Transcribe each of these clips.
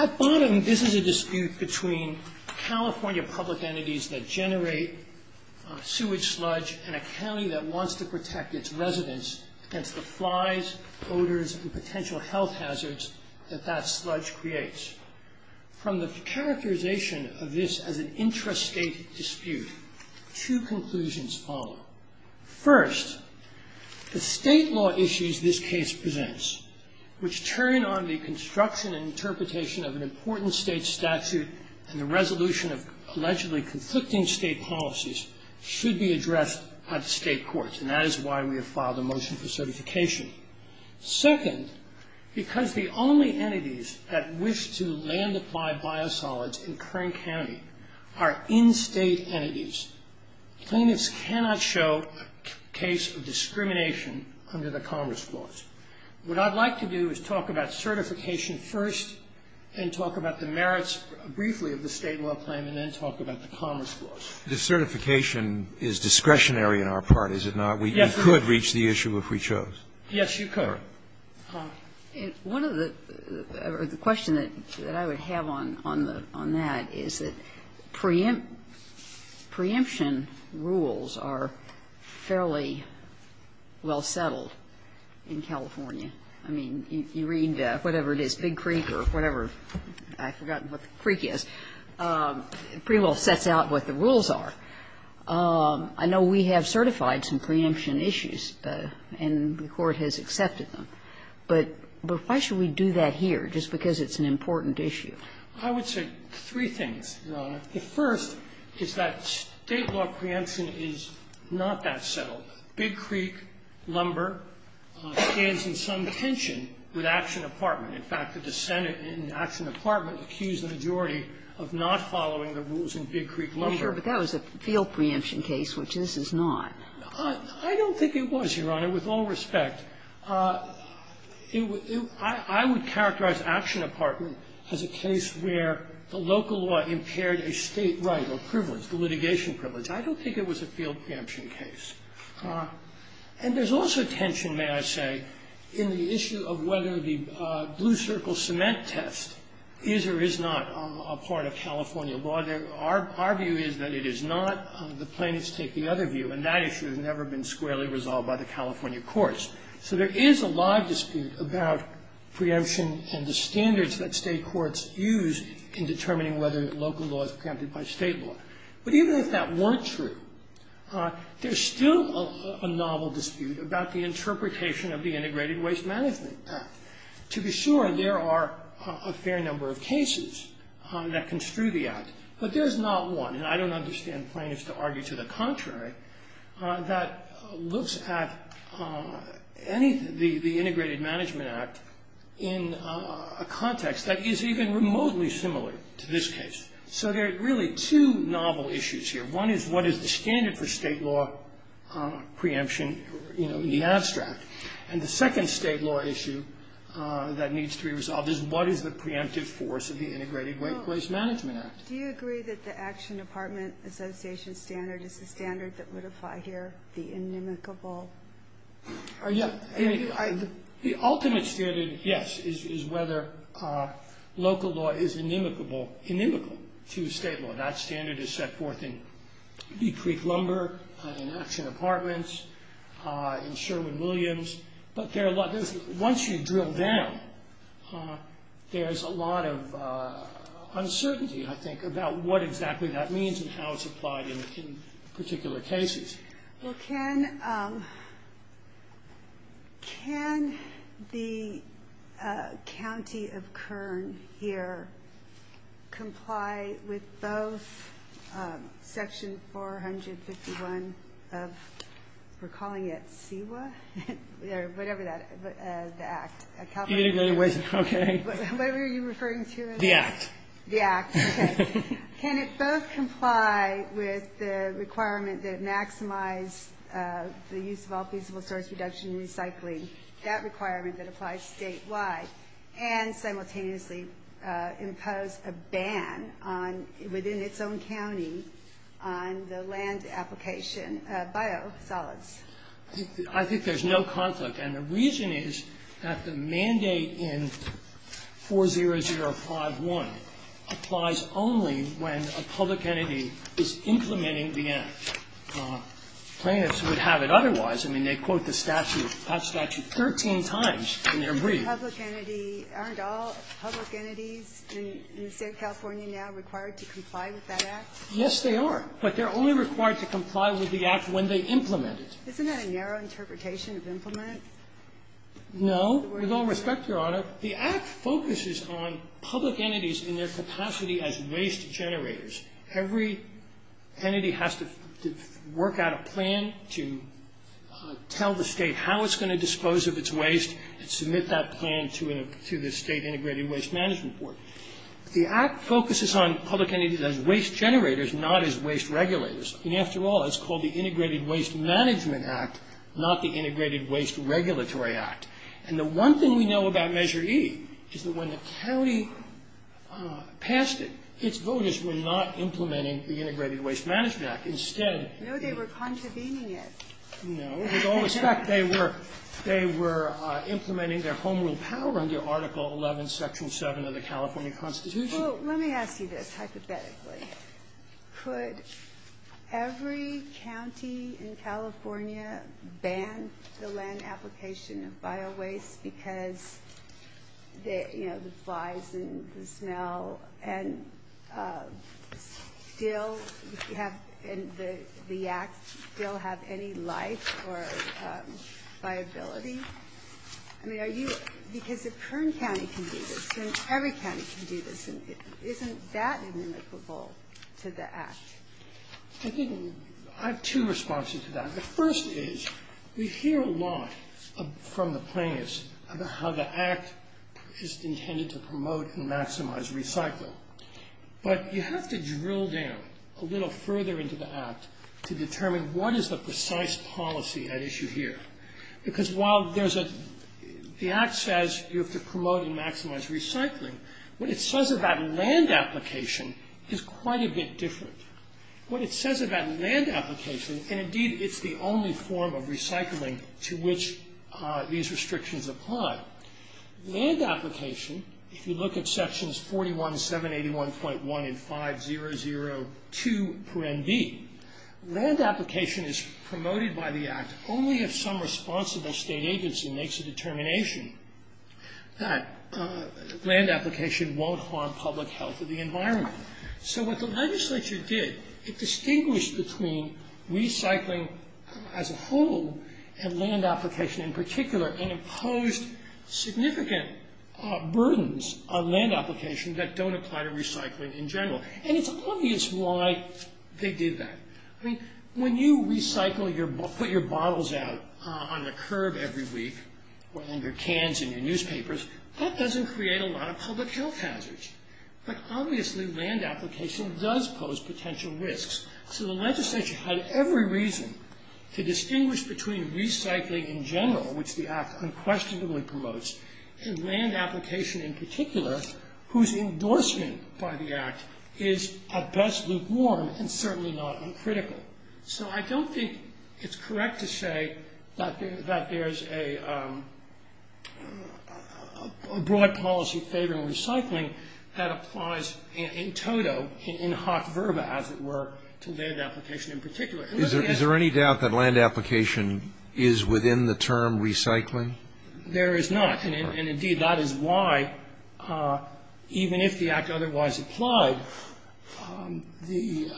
At bottom, this is a dispute between California public entities that generate sewage sludge in a county that wants to protect its residents against the flies, odors, and potential health hazards that that sludge creates. From the characterization of this as an intrastate dispute, two conclusions follow. First, the state law issues this case presents, which turn on the construction and interpretation of an important state statute and the resolution of allegedly conflicting state policies, should be addressed at state courts. And that is why we have filed a motion for certification. Second, because the only entities that wish to land apply biosolids in Kern County are in-state entities, plaintiffs cannot show a case of discrimination under the Commerce Clause. What I'd like to do is talk about certification first and talk about the merits briefly of the state law claim and then talk about the Commerce Clause. The certification is discretionary on our part, is it not? Yes. We could reach the issue if we chose. Yes, you could. One of the question that I would have on that is that preemption rules are fairly well settled in California. I mean, you read whatever it is, Big Creek or whatever. I've forgotten what the creek is. It pretty well sets out what the rules are. I know we have certified some preemption issues, and the Court has accepted them. But why should we do that here just because it's an important issue? I would say three things, Your Honor. The first is that state law preemption is not that settled. Big Creek, Lumber stands in some tension with Action Department. In fact, the Senate in Action Department accused the majority of not following the rules in Big Creek Lumber. Sure. But that was a field preemption case, which this is not. I don't think it was, Your Honor, with all respect. I would characterize Action Department as a case where the local law impaired a state right or privilege, the litigation privilege. I don't think it was a field preemption case. And there's also tension, may I say, in the issue of whether the blue circle cement test is or is not a part of California law. Our view is that it is not. The plaintiffs take the other view, and that issue has never been squarely resolved by the California courts. So there is a live dispute about preemption and the standards that state courts use in determining whether local law is preempted by state law. But even if that weren't true, there's still a novel dispute about the interpretation of the Integrated Waste Management Act. To be sure, there are a fair number of cases that construe the act. But there's not one, and I don't understand plaintiffs to argue to the contrary, that looks at the Integrated Management Act in a context that is even remotely similar to this case. So there are really two novel issues here. One is what is the standard for state law preemption, you know, in the abstract. And the second state law issue that needs to be resolved is what is the preemptive force of the Integrated Waste Management Act. Do you agree that the Action Department Association standard is the standard that would apply here, the inimicable? The ultimate standard, yes, is whether local law is inimical to state law. That standard is set forth in Creek Lumber, in Action Apartments, in Sherwin-Williams. But once you drill down, there's a lot of uncertainty, I think, about what exactly that means and how it's applied in particular cases. Well, can the county of Kern here comply with both Section 451 of, we're calling it CEWA, or whatever that is, the Act. Integrated Waste Management Act. Okay. What were you referring to? The Act. The Act, okay. Can it both comply with the requirement that it maximize the use of all feasible source production and recycling, that requirement that applies statewide, and simultaneously impose a ban on, within its own county, on the land application of biosolids? I think there's no conflict. And the reason is that the mandate in 40051 applies only when a public entity is implementing the Act. Plaintiffs would have it otherwise. I mean, they quote the statute, that statute, 13 times in their briefs. Aren't all public entities in the State of California now required to comply with that Act? Yes, they are. But they're only required to comply with the Act when they implement it. Isn't that a narrow interpretation of implement? No. With all respect, Your Honor, the Act focuses on public entities in their capacity as waste generators. Every entity has to work out a plan to tell the State how it's going to dispose of its waste and submit that plan to the State Integrated Waste Management Board. The Act focuses on public entities as waste generators, not as waste regulators. I mean, after all, it's called the Integrated Waste Management Act, not the Integrated Waste Regulatory Act. And the one thing we know about Measure E is that when the county passed it, its voters were not implementing the Integrated Waste Management Act. Instead, the ---- No, they were contravening it. No. With all respect, they were implementing their home rule power under Article 11, Section 7 of the California Constitution. Well, let me ask you this, hypothetically. Could every county in California ban the land application of biowaste because, you know, the flies and the smell and still have any life or viability? I mean, are you ---- Because if Kern County can do this and every county can do this, isn't that inimitable to the Act? I have two responses to that. The first is we hear a lot from the plaintiffs about how the Act is intended to promote and maximize recycling. But you have to drill down a little further into the Act to determine what is the precise policy at issue here. Because while there's a ---- The Act says you have to promote and maximize recycling. What it says about land application is quite a bit different. What it says about land application, and, indeed, it's the only form of recycling to which these restrictions apply. Land application, if you look at Sections 41, 781.1 and 5002 per NB, land agency makes a determination that land application won't harm public health or the environment. So what the legislature did, it distinguished between recycling as a whole and land application in particular and imposed significant burdens on land application that don't apply to recycling in general. And it's obvious why they did that. I mean, when you put your bottles out on a curb every week or in your cans in your newspapers, that doesn't create a lot of public health hazards. But, obviously, land application does pose potential risks. So the legislature had every reason to distinguish between recycling in general, which the Act unquestionably promotes, and land application in particular, whose endorsement by the Act is, at best, lukewarm and certainly not uncritical. So I don't think it's correct to say that there's a broad policy favoring recycling that applies in toto, in hot verba, as it were, to land application in particular. Is there any doubt that land application is within the term recycling? There is not. And, indeed, that is why, even if the Act otherwise applied, the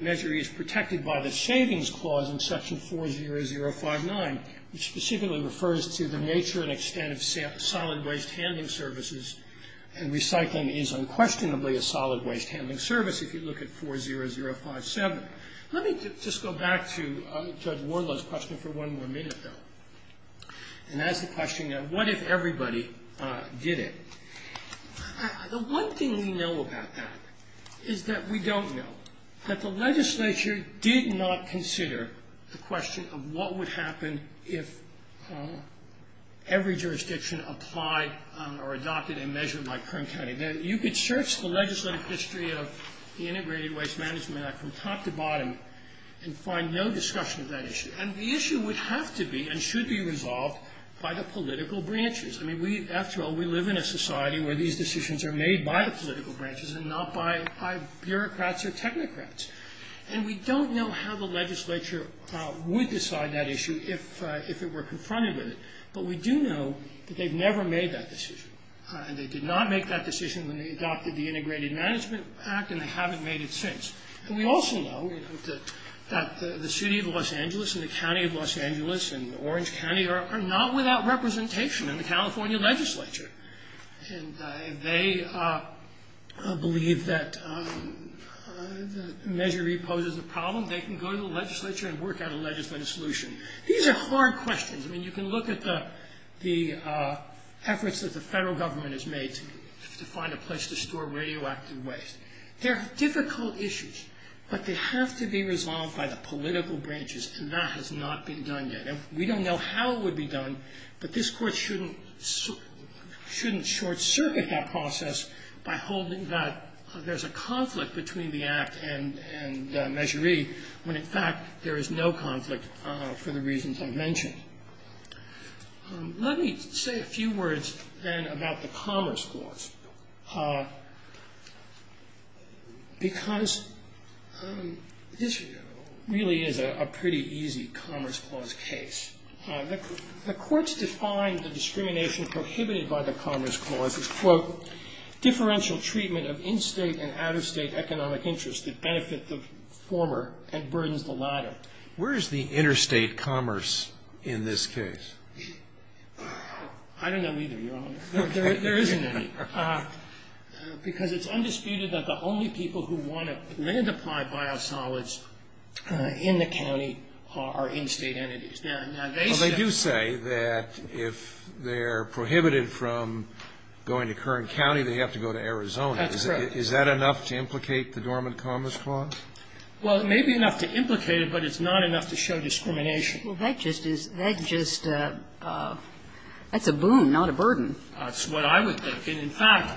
measure is protected by the Savings Clause in Section 40059, which specifically refers to the nature and extent of solid waste handling services. And recycling is unquestionably a solid waste handling service if you look at 40057. Let me just go back to Judge Warlow's question for one more minute, though. And that's the question, what if everybody did it? The one thing we know about that is that we don't know, that the legislature did not consider the question of what would happen if every jurisdiction applied or adopted a measure like Kern County. You could search the legislative history of the Integrated Waste Management Act from top to bottom and find no discussion of that issue. And the issue would have to be and should be resolved by the political branches. After all, we live in a society where these decisions are made by the political branches and not by bureaucrats or technocrats. And we don't know how the legislature would decide that issue if it were confronted with it. But we do know that they've never made that decision. They did not make that decision when they adopted the Integrated Management Act and they haven't made it since. And we also know that the city of Los Angeles and the county of Los Angeles and Orange County are not without representation in the California legislature. And if they believe that the measure reposes the problem, they can go to the legislature and work out a legislative solution. These are hard questions. I mean, you can look at the efforts that the federal government has made to find a place to store radioactive waste. They're difficult issues, but they have to be resolved by the political branches, and that has not been done yet. We don't know how it would be done, but this Court shouldn't short-circuit that process by holding that there's a conflict between the Act and Measure E when, in fact, there is no conflict for the reasons I've mentioned. Let me say a few words, then, about the Commerce Clause, because this really is a pretty easy Commerce Clause case. The courts define the discrimination prohibited by the Commerce Clause as, quote, differential treatment of in-state and out-of-state economic interests that benefit the former and burdens the latter. Where is the interstate commerce in this case? I don't know either, Your Honor. There isn't any, because it's undisputed that the only people who want to land-apply biosolids in the county are in-state entities. Well, they do say that if they're prohibited from going to Kern County, they have to go to Arizona. That's correct. Is that enough to implicate the Dormant Commerce Clause? Well, it may be enough to implicate it, but it's not enough to show discrimination. Well, that just is – that just – that's a boon, not a burden. That's what I would think. And, in fact,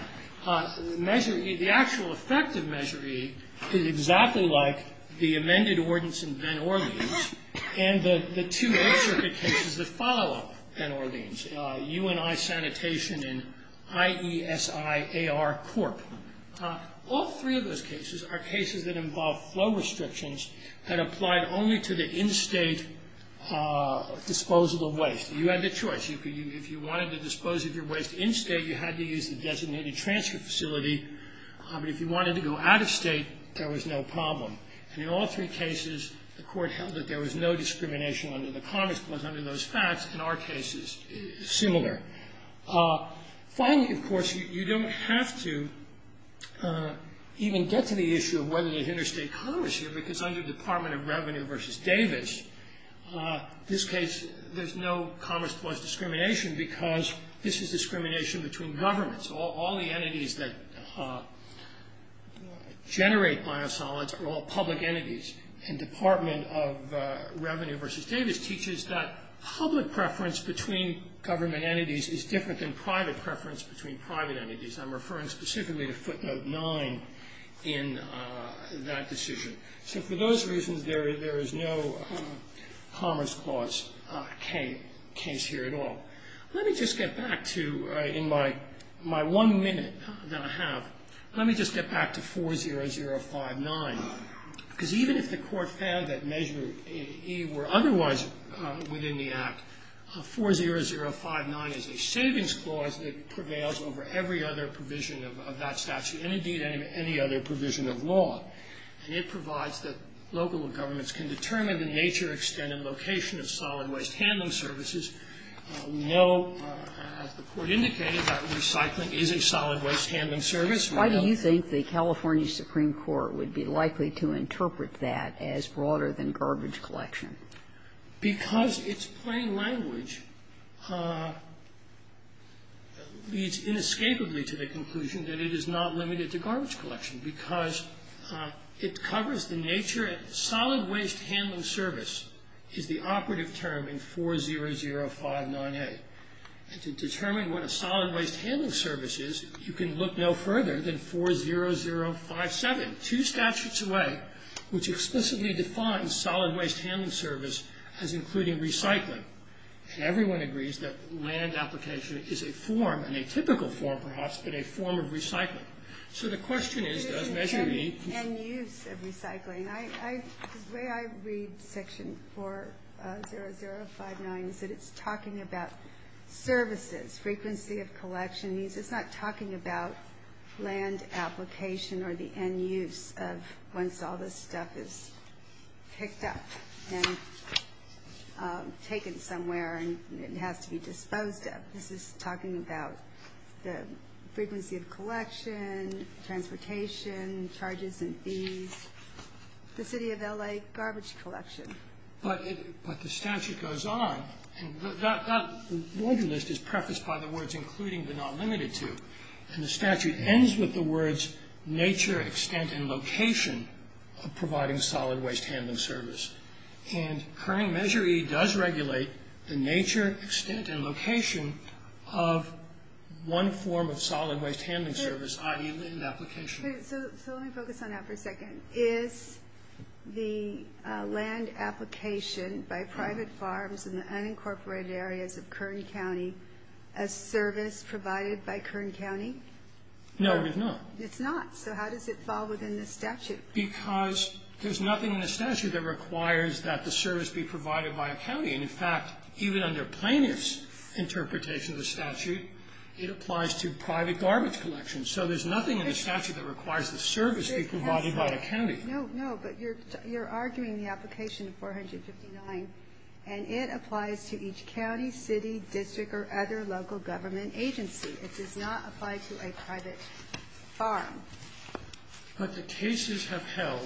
Measure E, the actual effect of Measure E is exactly like the amended ordinance in Ben Orleans and the two Eighth Circuit cases that follow Ben Orleans, UNI Sanitation and IESI-AR Corp. All three of those cases are cases that involve flow restrictions that applied only to the in-state disposal of waste. You had the choice. If you wanted to dispose of your waste in-state, you had to use the designated transfer facility. But if you wanted to go out-of-state, there was no problem. And in all three cases, the Court held that there was no discrimination under the Commerce Clause under those facts in our cases, similar. Finally, of course, you don't have to even get to the issue of whether you interstate commerce here because under the Department of Revenue v. Davis, this case, there's no Commerce Clause discrimination because this is discrimination between governments. All the entities that generate biosolids are all public entities. And Department of Revenue v. Davis teaches that public preference between government entities is different than private preference between private entities. I'm referring specifically to footnote 9 in that decision. So for those reasons, there is no Commerce Clause case here at all. Let me just get back to, in my one minute that I have, let me just get back to 40059 because even if the Court found that Measure E were otherwise within the Act, 40059 is a savings clause that prevails over every other provision of that statute and, indeed, any other provision of law. And it provides that local governments can determine the nature, extent, and location of solid waste handling services. We know, as the Court indicated, that recycling is a solid waste handling service. Why do you think the California Supreme Court would be likely to interpret that as broader than garbage collection? Because its plain language leads inescapably to the conclusion that it is not limited to garbage collection because it covers the nature. Solid waste handling service is the operative term in 40059A. And to determine what a solid waste handling service is, you can look no further than 40057, two statutes away, which explicitly defines solid waste handling service as including recycling. Everyone agrees that land application is a form, and a typical form perhaps, but a form of recycling. So the question is, does Measure E... And use of recycling. The way I read section 40059 is that it's talking about services, frequency of collection. It's not talking about land application or the end use of once all this stuff is picked up and taken somewhere and it has to be disposed of. This is talking about the frequency of collection, transportation, charges and fees, the city of L.A. garbage collection. But the statute goes on. That laundry list is prefaced by the words including but not limited to. And the statute ends with the words nature, extent, and location of providing solid waste handling service. And current Measure E does regulate the nature, extent, and location of one form of solid waste handling service, i.e. land application. So let me focus on that for a second. Is the land application by private farms in the unincorporated areas of Kern County a service provided by Kern County? No, it is not. It's not. So how does it fall within the statute? Because there's nothing in the statute that requires that the service be provided by a county. And, in fact, even under plaintiff's interpretation of the statute, it applies to private garbage collection. So there's nothing in the statute that requires the service be provided by a county. No, no. But you're arguing the application of 459, and it applies to each county, city, district, or other local government agency. It does not apply to a private farm. But the cases have held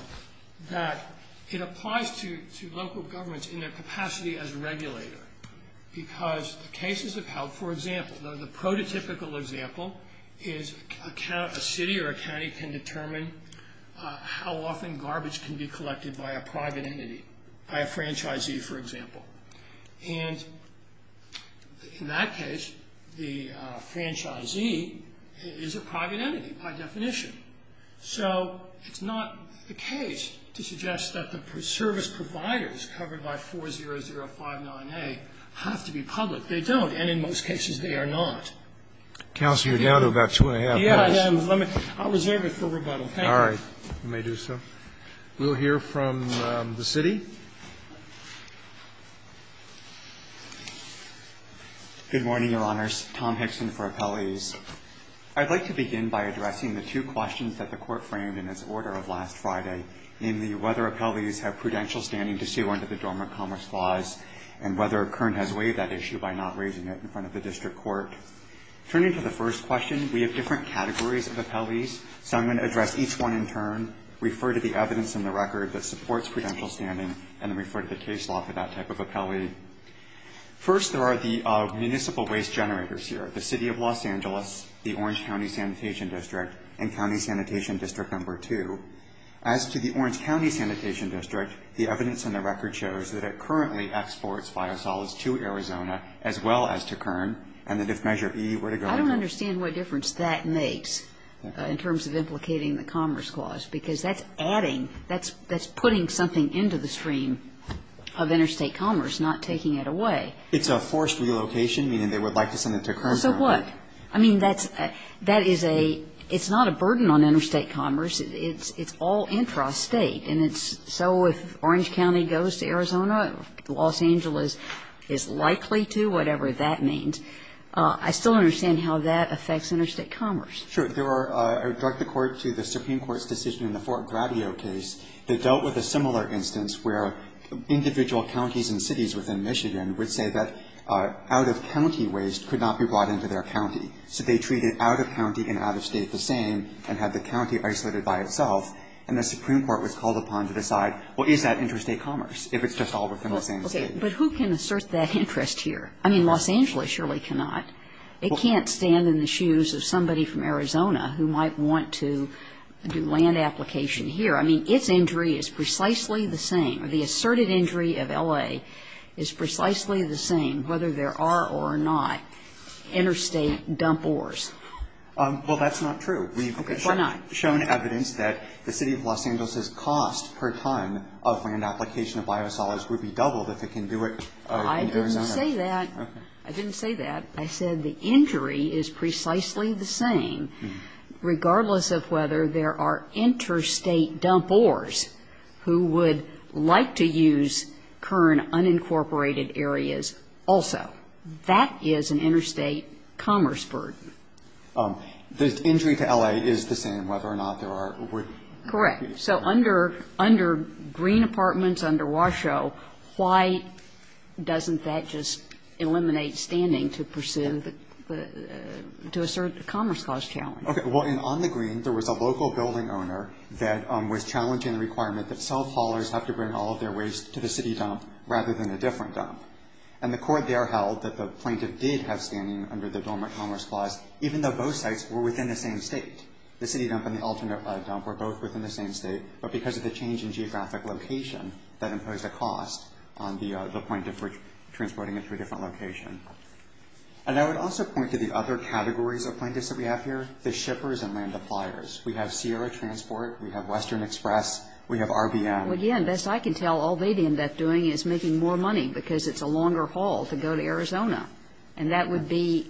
that it applies to local governments in their capacity as a regulator because the cases have held, for example, the prototypical example is a city or a county can determine how often garbage can be collected by a private entity, by a franchisee, for example. And in that case, the franchisee is a private entity by definition. So it's not the case to suggest that the service providers covered by 40059A have to be public. They don't. And in most cases, they are not. Counsel, you're down to about two and a half minutes. Yeah, yeah. I'll reserve it for rebuttal. Thank you. All right. You may do so. We'll hear from the city. Good morning, Your Honors. Tom Hickson for appellees. I'd like to begin by addressing the two questions that the court framed in its order of last Friday in the whether appellees have prudential standing to sue under the Dormant Commerce Clause and whether Kern has waived that issue by not raising it in front of the district court. Turning to the first question, we have different categories of appellees, so I'm going to address each one in turn, refer to the evidence in the record that supports prudential standing, and then refer to the case law for that type of appellee. First, there are the municipal waste generators here, the City of Los Angeles, the Orange County Sanitation District, and County Sanitation District No. 2. As to the Orange County Sanitation District, the evidence in the record shows that it currently exports biosolids to Arizona as well as to Kern, and that if Measure E were to go to Kern. I don't understand what difference that makes in terms of implicating the Dormant Commerce Clause, because that's adding, that's putting something into the stream of interstate commerce, not taking it away. It's a forced relocation, meaning they would like to send it to Kern. So what? I mean, that's a, that is a, it's not a burden on interstate commerce. It's all intrastate, and it's so if Orange County goes to Arizona, Los Angeles is likely to, whatever that means. I still don't understand how that affects interstate commerce. Sure. There are, I would direct the Court to the Supreme Court's decision in the Fort Gradio case that dealt with a similar instance where individual counties and cities within Michigan would say that out-of-county waste could not be brought into their county. So they treated out-of-county and out-of-state the same and had the county isolated by itself, and the Supreme Court was called upon to decide, well, is that interstate commerce, if it's just all within the same state? Okay. But who can assert that interest here? I mean, Los Angeles surely cannot. It can't stand in the shoes of somebody from Arizona who might want to do land application here. I mean, its injury is precisely the same. The asserted injury of L.A. is precisely the same whether there are or not interstate dump ores. Well, that's not true. Okay. Why not? We've shown evidence that the City of Los Angeles's cost per ton of land application of biosolids would be doubled if it can do it in Arizona. I didn't say that. Okay. I said the injury is precisely the same regardless of whether there are interstate dump ores who would like to use current unincorporated areas also. That is an interstate commerce burden. The injury to L.A. is the same whether or not there are or wouldn't be. Correct. So under green apartments, under Washoe, why doesn't that just eliminate standing to pursue the – to assert the Commerce Clause challenge? Okay. Well, on the green, there was a local building owner that was challenging the requirement that cell callers have to bring all of their waste to the city dump rather than a different dump. And the court there held that the plaintiff did have standing under the Dormant Commerce Clause, even though both sites were within the same State. The city dump and the alternate dump were both within the same State, but because of the change in geographic location, that imposed a cost on the plaintiff for transporting it to a different location. And I would also point to the other categories of plaintiffs that we have here, the shippers and land suppliers. We have Sierra Transport. We have Western Express. We have RBM. Again, best I can tell, all they'd end up doing is making more money because it's a longer haul to go to Arizona. And that would be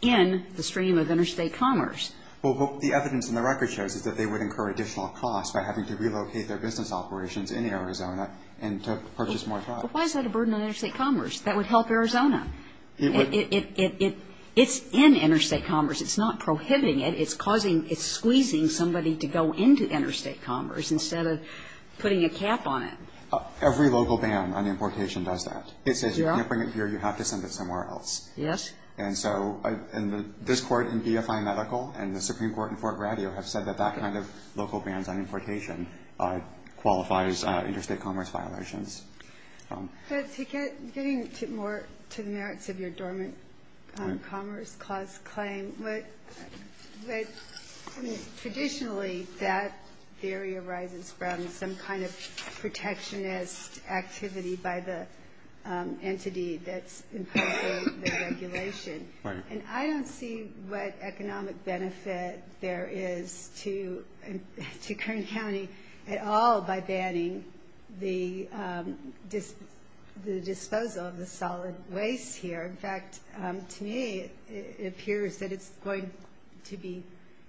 in the stream of interstate commerce. Well, what the evidence in the record shows is that they would incur additional costs by having to relocate their business operations in Arizona and to purchase more products. But why is that a burden on interstate commerce? That would help Arizona. It's in interstate commerce. It's not prohibiting it. It's causing or squeezing somebody to go into interstate commerce instead of putting a cap on it. Every local ban on importation does that. It says you can't bring it here. You have to send it somewhere else. Yes. And so this Court in BFI Medical and the Supreme Court in Fort Grady have said that that kind of local bans on importation qualifies interstate commerce violations. Getting more to the merits of your dormant commerce clause claim, but traditionally that theory arises from some kind of protectionist activity by the entity that's imposing the regulation. And I don't see what economic benefit there is to Kern County at all by banning the disposal of the solid waste here. In fact, to me it appears that it's going to be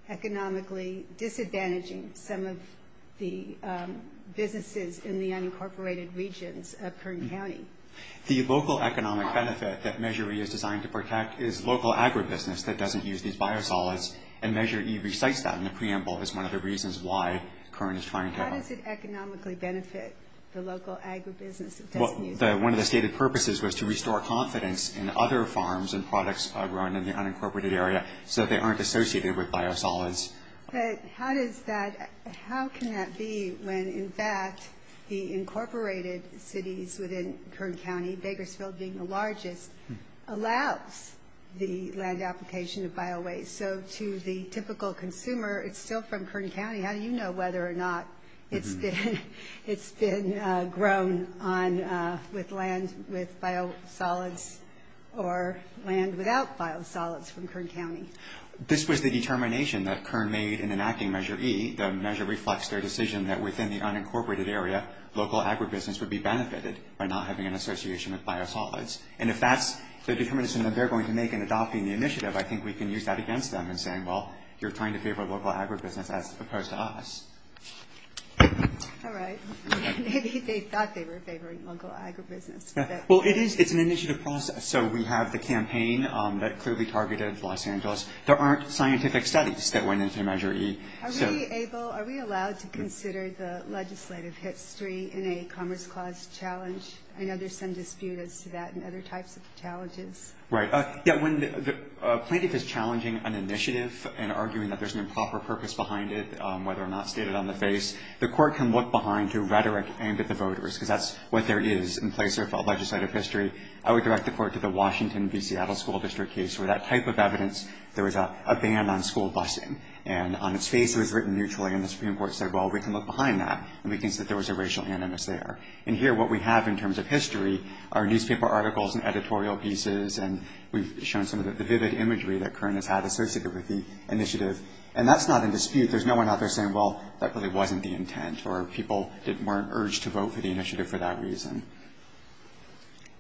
economically disadvantaging some of the businesses in the unincorporated regions of Kern County. The local economic benefit that Measure E is designed to protect is local agribusiness that doesn't use these biosolids. And Measure E recites that in the preamble as one of the reasons why Kern is trying to How does it economically benefit the local agribusiness that doesn't use them? Well, one of the stated purposes was to restore confidence in other farms and products grown in the unincorporated area so they aren't associated with biosolids. But how does that, how can that be when, in fact, the incorporated cities within Kern County, Bakersfield being the largest, allows the land application of biowaste? And so to the typical consumer, it's still from Kern County. How do you know whether or not it's been grown on, with land with biosolids or land without biosolids from Kern County? This was the determination that Kern made in enacting Measure E. The measure reflects their decision that within the unincorporated area, local agribusiness would be benefited by not having an association with biosolids. And if that's the determination that they're going to make in adopting the initiative, I think we can use that against them in saying, well, you're trying to favor local agribusiness as opposed to us. All right. Maybe they thought they were favoring local agribusiness. Well, it is, it's an initiative process. So we have the campaign that clearly targeted Los Angeles. There aren't scientific studies that went into Measure E. Are we able, are we allowed to consider the legislative history in a commerce clause challenge? I know there's some dispute as to that and other types of challenges. Right. Yeah, when the plaintiff is challenging an initiative and arguing that there's an improper purpose behind it, whether or not stated on the face, the court can look behind to rhetoric aimed at the voters, because that's what there is in place of a legislative history. I would direct the court to the Washington v. Seattle School District case, where that type of evidence, there was a ban on school busing. And on its face, it was written mutually, and the Supreme Court said, well, we can look behind that, and we can see that there was a racial animus there. And here, what we have in terms of history are newspaper articles and editorial pieces, and we've shown some of the vivid imagery that current has had associated with the initiative. And that's not in dispute. There's no one out there saying, well, that really wasn't the intent, or people weren't urged to vote for the initiative for that reason.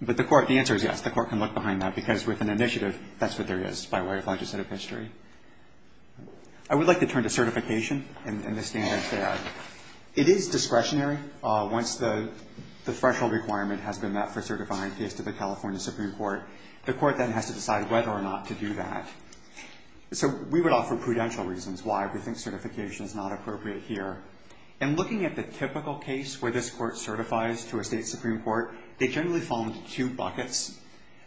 But the court, the answer is yes, the court can look behind that, because with an initiative, that's what there is by way of legislative history. I would like to turn to certification and the standards there. It is discretionary. Once the threshold requirement has been met for certifying a case to the California Supreme Court, the court then has to decide whether or not to do that. So we would offer prudential reasons why we think certification is not appropriate here. In looking at the typical case where this court certifies to a state supreme court, they generally fall into two buckets.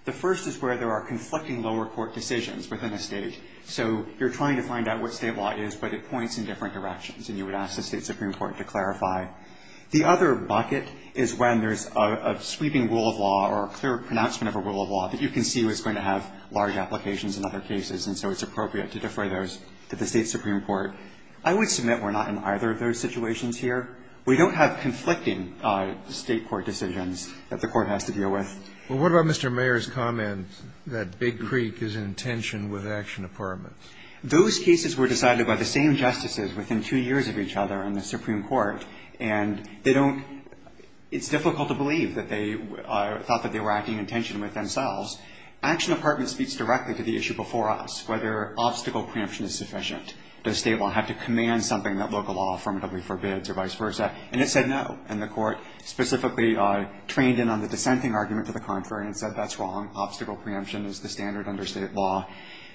The first is where there are conflicting lower court decisions within a state. So you're trying to find out what state law is, but it points in different directions, and you would ask the state supreme court to clarify. The other bucket is when there's a sweeping rule of law or a clear pronouncement of a rule of law that you can see was going to have large applications in other cases, and so it's appropriate to defer those to the state supreme court. I would submit we're not in either of those situations here. We don't have conflicting state court decisions that the court has to deal with. Well, what about Mr. Mayer's comment that Big Creek is in tension with action apartments? Those cases were decided by the same justices within two years of each other in the supreme court, and it's difficult to believe that they thought that they were acting in tension with themselves. Action apartments speaks directly to the issue before us, whether obstacle preemption is sufficient. Does state law have to command something that local law affirmatively forbids or vice versa? And it said no, and the court specifically trained in on the dissenting argument to the contrary and said that's wrong. Obstacle preemption is the standard under state law.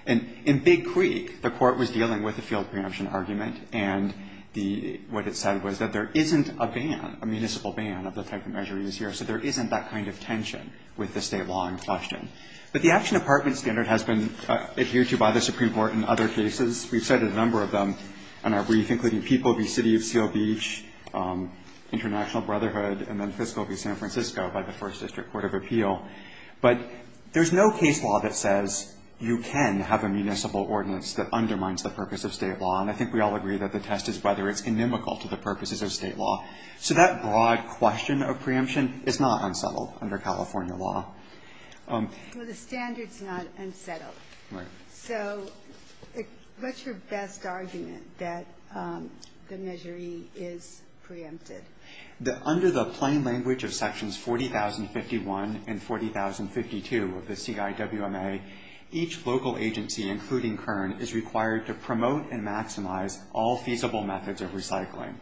And in Big Creek, the court was dealing with the field preemption argument, and what it said was that there isn't a ban, a municipal ban of the type of measure used here, so there isn't that kind of tension with the state law in question. But the action apartment standard has been adhered to by the supreme court in other cases. We've cited a number of them in our brief, including People v. City of Seal Beach, International Brotherhood, and then Fiscal v. San Francisco by the First District Court of Appeal. But there's no case law that says you can have a municipal ordinance that undermines the purpose of state law, and I think we all agree that the test is whether it's inimical to the purposes of state law. So that broad question of preemption is not unsettled under California law. Ginsburg. Well, the standard's not unsettled. So what's your best argument that the Measure E is preempted? Under the plain language of Sections 40,051 and 40,052 of the CIWMA, each local agency, including Kern, is required to promote and maximize all feasible methods of recycling.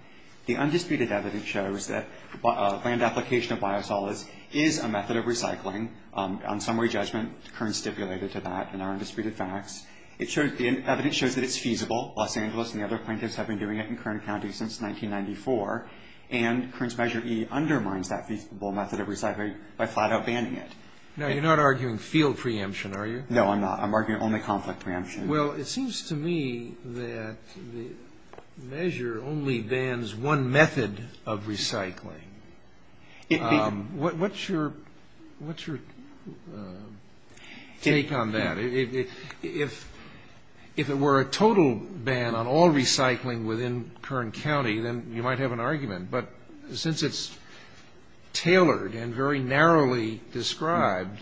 The undisputed evidence shows that land application of biosolids is a method of recycling. On summary judgment, Kern stipulated to that in our undisputed facts. The evidence shows that it's feasible. Los Angeles and the other plaintiffs have been doing it in Kern County since 1994, and Kern's Measure E undermines that feasible method of recycling by flat-out banning it. Now, you're not arguing field preemption, are you? No, I'm not. I'm arguing only conflict preemption. Well, it seems to me that the measure only bans one method of recycling. What's your take on that? If it were a total ban on all recycling within Kern County, then you might have an argument. But since it's tailored and very narrowly described,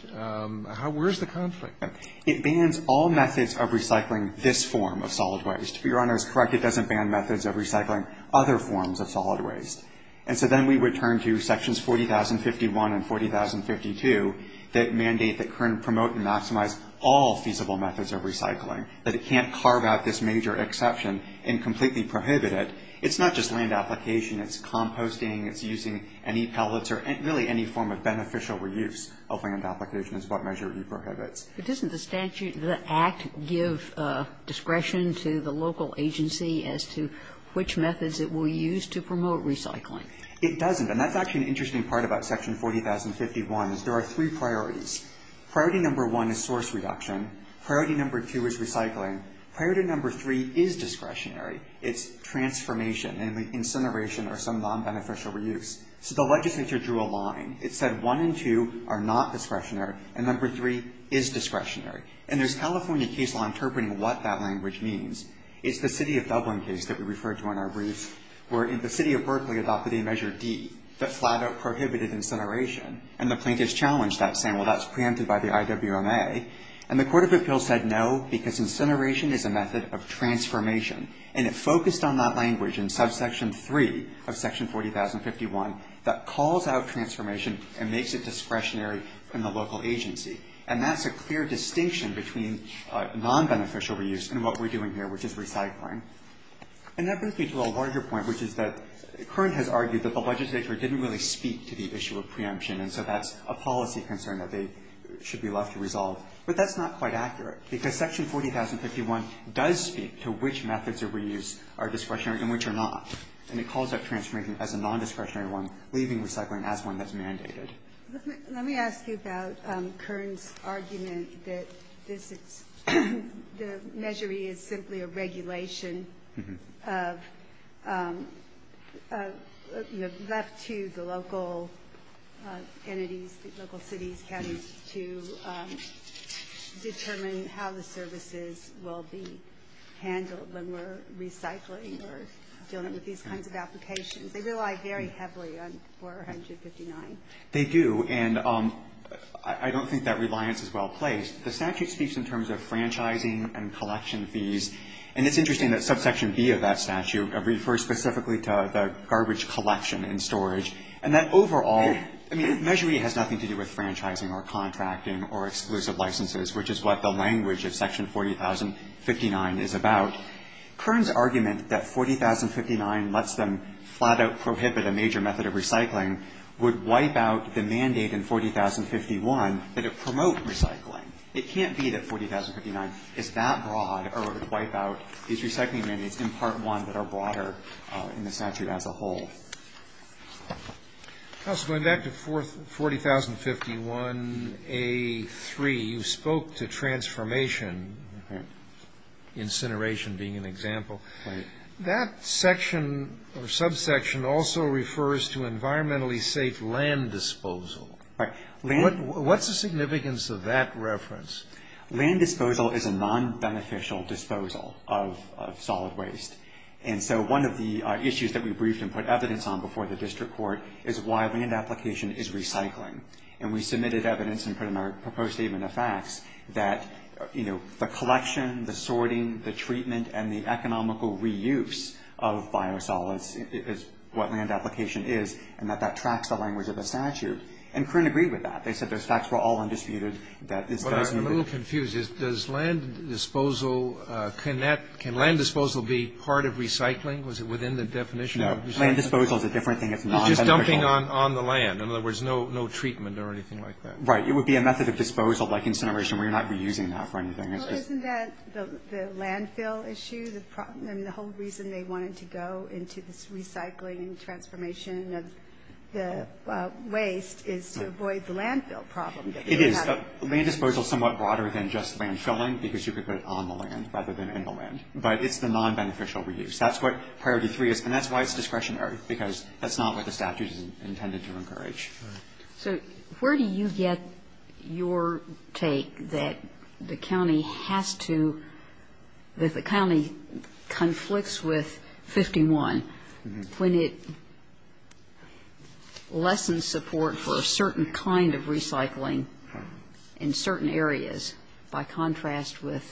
where's the conflict? It bans all methods of recycling this form of solid waste. Your Honor is correct. It doesn't ban methods of recycling other forms of solid waste. And so then we would turn to Sections 40,051 and 40,052 that mandate that Kern promote and maximize all feasible methods of recycling, that it can't carve out this major exception and completely prohibit it. It's not just land application. It's composting. It's using any pellets or really any form of beneficial reuse of land application is what Measure E prohibits. But doesn't the statute, the Act, give discretion to the local agency as to which methods it will use to promote recycling? It doesn't. And that's actually an interesting part about Section 40,051 is there are three priorities. Priority number one is source reduction. Priority number two is recycling. Priority number three is discretionary. It's transformation and incineration or some non-beneficial reuse. So the legislature drew a line. It said one and two are not discretionary, and number three is discretionary. And there's a California case law interpreting what that language means. It's the city of Dublin case that we referred to on our briefs, where the city of Berkeley adopted a Measure D that flat out prohibited incineration. And the plaintiffs challenged that, saying, well, that's preempted by the IWMA. And the Court of Appeals said no, because incineration is a method of transformation. And it focused on that language in Subsection 3 of Section 40,051 that calls out transformation and makes it discretionary in the local agency. And that's a clear distinction between non-beneficial reuse and what we're doing here, which is recycling. And that brings me to a larger point, which is that Curran has argued that the legislature didn't really speak to the issue of preemption, and so that's a policy concern that they should be left to resolve. But that's not quite accurate, because Section 40,051 does speak to which methods of reuse are discretionary and which are not. And it calls that transformation as a non-discretionary one, leaving recycling as one that's mandated. Let me ask you about Curran's argument that this is the measure is simply a regulation of, you know, left to the local entities, local cities, counties, to determine how the services will be handled when we're recycling or dealing with these kinds of applications. They rely very heavily on 459. They do. And I don't think that reliance is well placed. The statute speaks in terms of franchising and collection fees. And it's interesting that Subsection B of that statute refers specifically to the garbage collection and storage. And that overall, I mean, Measure E has nothing to do with franchising or contracting or exclusive licenses, which is what the language of Section 40,059 is about. Curran's argument that 40,059 lets them flat-out prohibit a major method of recycling would wipe out the mandate in 40,051 that it promote recycling. It can't be that 40,059 is that broad or would wipe out these recycling mandates in Part 1 that are broader in the statute as a whole. Counsel, going back to 40,051A3, you spoke to transformation, incineration being an example. That section or subsection also refers to environmentally safe land disposal. What's the significance of that reference? Land disposal is a non-beneficial disposal of solid waste. And so one of the issues that we briefed and put evidence on before the district court is why land application is recycling. And we submitted evidence and put in our proposed statement of facts that, you know, the collection, the sorting, the treatment, and the economical reuse of biosolids is what land application is, and that that tracks the language of the statute. And Curran agreed with that. They said those facts were all undisputed. I'm a little confused. Does land disposal connect? Can land disposal be part of recycling? Was it within the definition? No. Land disposal is a different thing. It's not beneficial. It's just dumping on the land. In other words, no treatment or anything like that. Right. It would be a method of disposal, like incineration, where you're not reusing that for anything. Well, isn't that the landfill issue? I mean, the whole reason they wanted to go into this recycling and transformation of the waste is to avoid the landfill problem. It is. Land disposal is somewhat broader than just landfilling, because you could put it on the land rather than in the land. But it's the nonbeneficial reuse. That's what priority three is. And that's why it's discretionary, because that's not what the statute is intended to encourage. Right. So where do you get your take that the county has to – that the county conflicts with 51 when it lessens support for a certain kind of recycling in certain areas by contrast with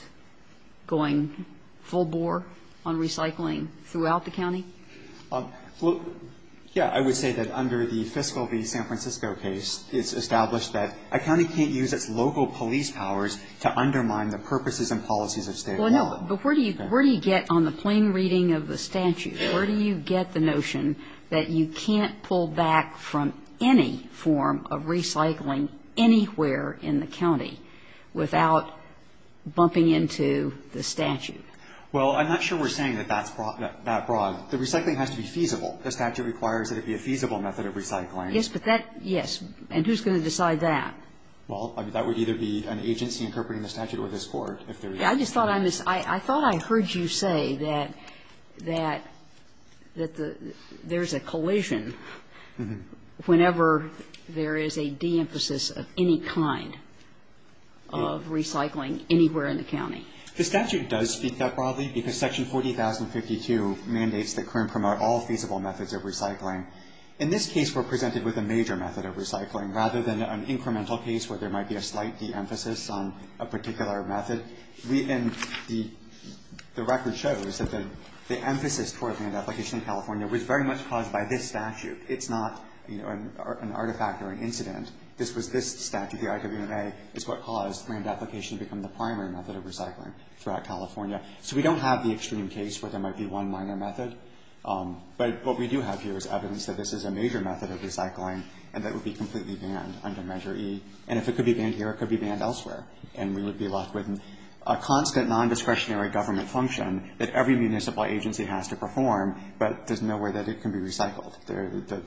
going full bore on recycling throughout the county? Well, yeah. I would say that under the fiscal v. San Francisco case, it's established that a county can't use its local police powers to undermine the purposes and policies of state law. Well, no. But where do you get on the plain reading of the statute? Where do you get the notion that you can't pull back from any form of recycling anywhere in the county without bumping into the statute? Well, I'm not sure we're saying that that's that broad. The recycling has to be feasible. The statute requires that it be a feasible method of recycling. Yes, but that – yes. And who's going to decide that? Well, that would either be an agency interpreting the statute or this Court, if there is one. I just thought I missed – I thought I heard you say that – that there's a collision whenever there is a de-emphasis of any kind of recycling anywhere in the county. The statute does speak that broadly, because Section 40,052 mandates that CIRM promote all feasible methods of recycling. In this case, we're presented with a major method of recycling rather than an incremental case where there might be a slight de-emphasis on a particular method. And the record shows that the emphasis toward land application in California was very much caused by this statute. It's not, you know, an artifact or an incident. This was this statute, the IWMA, is what caused land application to become the major method of recycling throughout California. So we don't have the extreme case where there might be one minor method. But what we do have here is evidence that this is a major method of recycling and that it would be completely banned under Measure E. And if it could be banned here, it could be banned elsewhere. And we would be left with a constant non-discretionary government function that every municipal agency has to perform, but there's no way that it can be recycled. The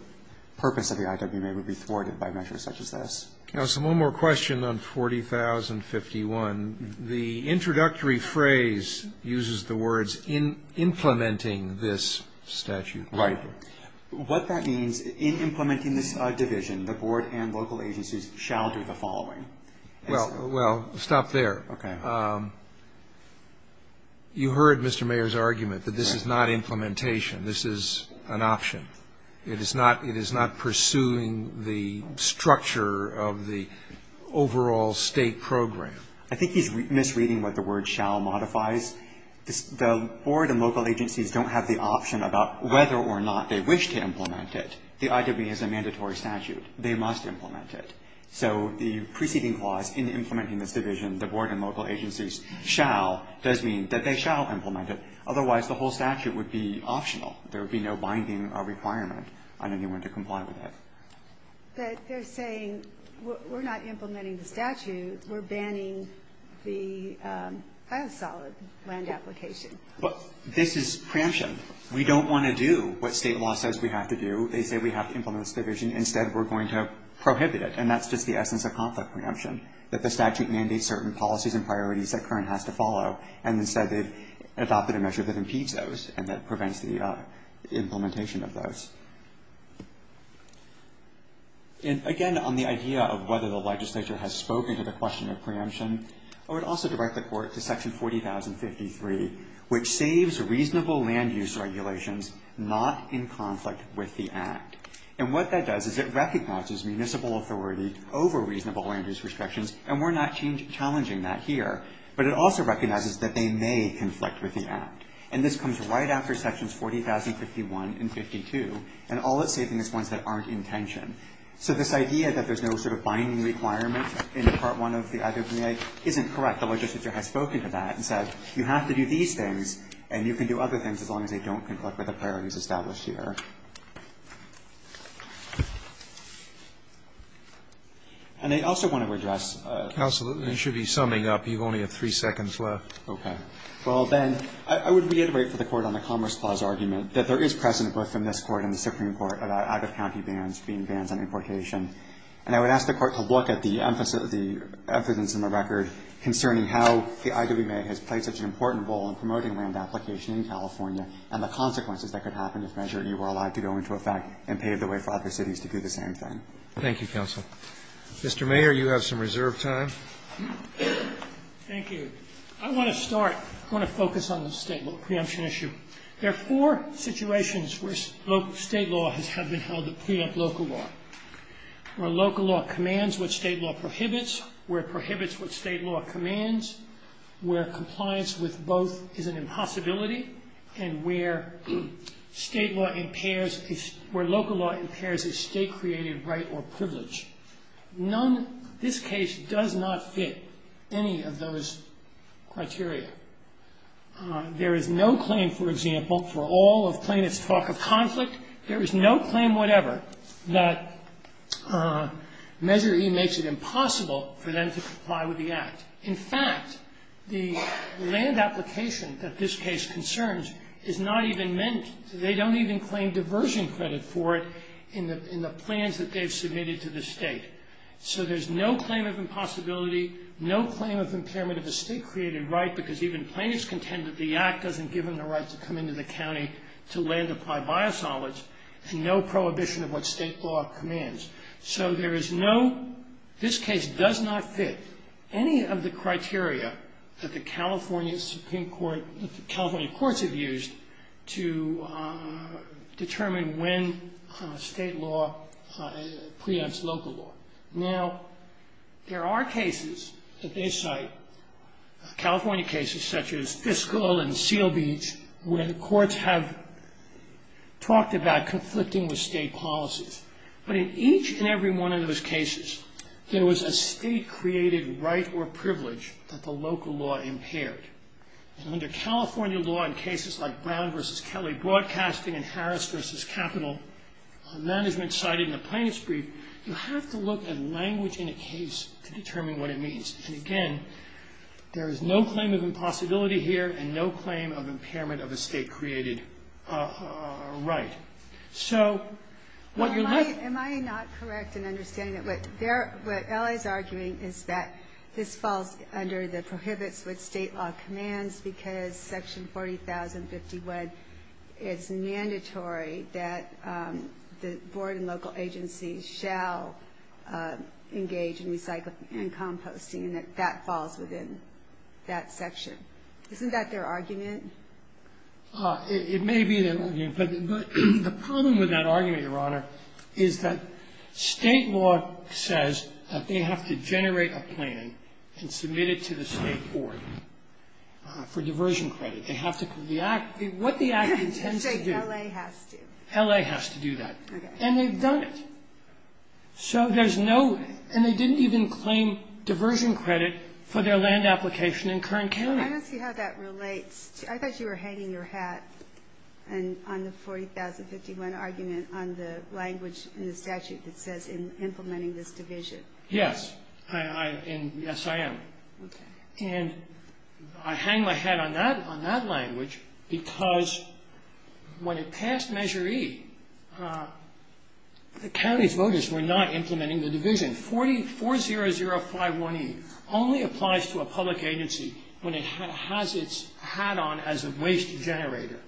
purpose of the IWMA would be thwarted by measures such as this. Now, so one more question on 40,051. The introductory phrase uses the words in implementing this statute. Right. What that means in implementing this division, the board and local agencies shall do the following. Well, stop there. Okay. You heard Mr. Mayer's argument that this is not implementation. This is an option. It is not pursuing the structure of the overall state program. I think he's misreading what the word shall modifies. The board and local agencies don't have the option about whether or not they wish to implement it. The IWMA is a mandatory statute. They must implement it. So the preceding clause in implementing this division, the board and local agencies shall, does mean that they shall implement it. Otherwise, the whole statute would be optional. There would be no binding requirement on anyone to comply with it. But they're saying we're not implementing the statute. We're banning the solid land application. This is preemption. We don't want to do what state law says we have to do. They say we have to implement this division. Instead, we're going to prohibit it. And that's just the essence of conflict preemption, that the statute mandates certain policies and priorities that current has to follow. And instead, they've adopted a measure that impedes those and that prevents the implementation of those. And, again, on the idea of whether the legislature has spoken to the question of preemption, I would also direct the court to Section 40,053, which saves reasonable land use regulations not in conflict with the Act. And what that does is it recognizes municipal authority over reasonable land use restrictions, and we're not challenging that here. But it also recognizes that they may conflict with the Act. And this comes right after Sections 40,051 and 52, and all it's saving is ones that aren't in tension. So this idea that there's no sort of binding requirement in Part I of the IWCA isn't correct. The legislature has spoken to that and said you have to do these things, and you can do other things as long as they don't conflict with the priorities And I also want to address the other question. I should be summing up. You only have three seconds left. Okay. Well, then, I would reiterate for the Court on the Commerce Clause argument that there is precedent both from this Court and the Supreme Court about out-of-county bans being bans on importation. And I would ask the Court to look at the emphasis of the evidence in the record concerning how the IWCA has played such an important role in promoting land application in California and the consequences that could happen if Measure E were allowed to go into effect and pave the way for other cities to do the same thing. Thank you, counsel. Mr. Mayer, you have some reserve time. Thank you. I want to start, I want to focus on the state law preemption issue. There are four situations where state law has been held that preempt local law. Where local law commands what state law prohibits, where it prohibits what state law commands, where compliance with both is an impossibility, and where state law impairs, where local law impairs a state-created right or privilege. None, this case does not fit any of those criteria. There is no claim, for example, for all of plaintiffs' talk of conflict, there is no claim whatever that Measure E makes it impossible for them to comply with the Act. In fact, the land application that this case concerns is not even meant, they don't even claim diversion credit for it in the plans that they've submitted to the state. So there's no claim of impossibility, no claim of impairment of a state-created right, because even plaintiffs contend that the Act doesn't give them the right to come into the county to land apply biosolids, and no prohibition of what state law commands. So there is no, this case does not fit any of the criteria that the California Supreme Court, that the California courts have used to determine when state law preempts local law. Now, there are cases that they cite, California cases such as Fiscal and Seal Beach, where the courts have talked about conflicting with state policies. But in each and every one of those cases, there was a state-created right or privilege that the local law impaired. And under California law, in cases like Brown v. Kelly Broadcasting and Harris v. Capital Management cited in the plaintiff's brief, you have to look at language in a case to determine what it means. And again, there is no claim of impossibility here, and no claim of impairment of a state-created right. So what you're left... Am I not correct in understanding that what L.A.'s arguing is that this falls under the prohibits with state law commands because Section 40,051 is mandatory that the board and local agencies shall engage in recycling and composting, and that that falls within that section? Isn't that their argument? It may be their argument, but the problem with that argument, Your Honor, is that state law says that they have to generate a plan and submit it to the state board for diversion credit. They have to... What the act intends to do... L.A. has to. L.A. has to do that. Okay. And they've done it. So there's no... And they didn't even claim diversion credit for their land application in Kern County. I don't see how that relates. I thought you were hanging your hat on the 40,051 argument on the language in the statute that says in implementing this division. Yes. And yes, I am. And I hang my hat on that language because when it passed Measure E, the county's voters were not implementing the division. 40,051E only applies to a public agency when it has its hat on as a waste generator.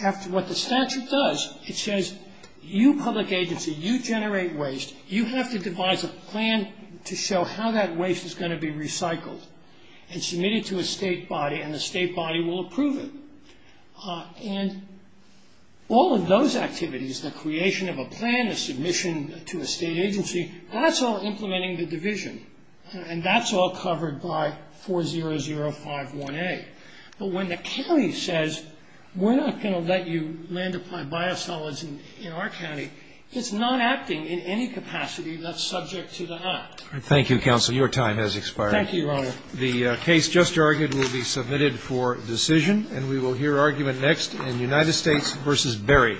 After what the statute does, it says you public agency, you generate waste, you have to devise a plan to show how that waste is going to be recycled and submit it to a state body, and the state body will approve it. And all of those activities, the creation of a plan, a submission to a state agency, that's all implementing the division, and that's all covered by 40051A. But when the county says we're not going to let you land apply biosolids in our county, it's not acting in any capacity that's subject to the act. Thank you, Counsel. Your time has expired. Thank you, Your Honor. The case just argued will be submitted for decision, and we will hear argument next in United States v. Berry.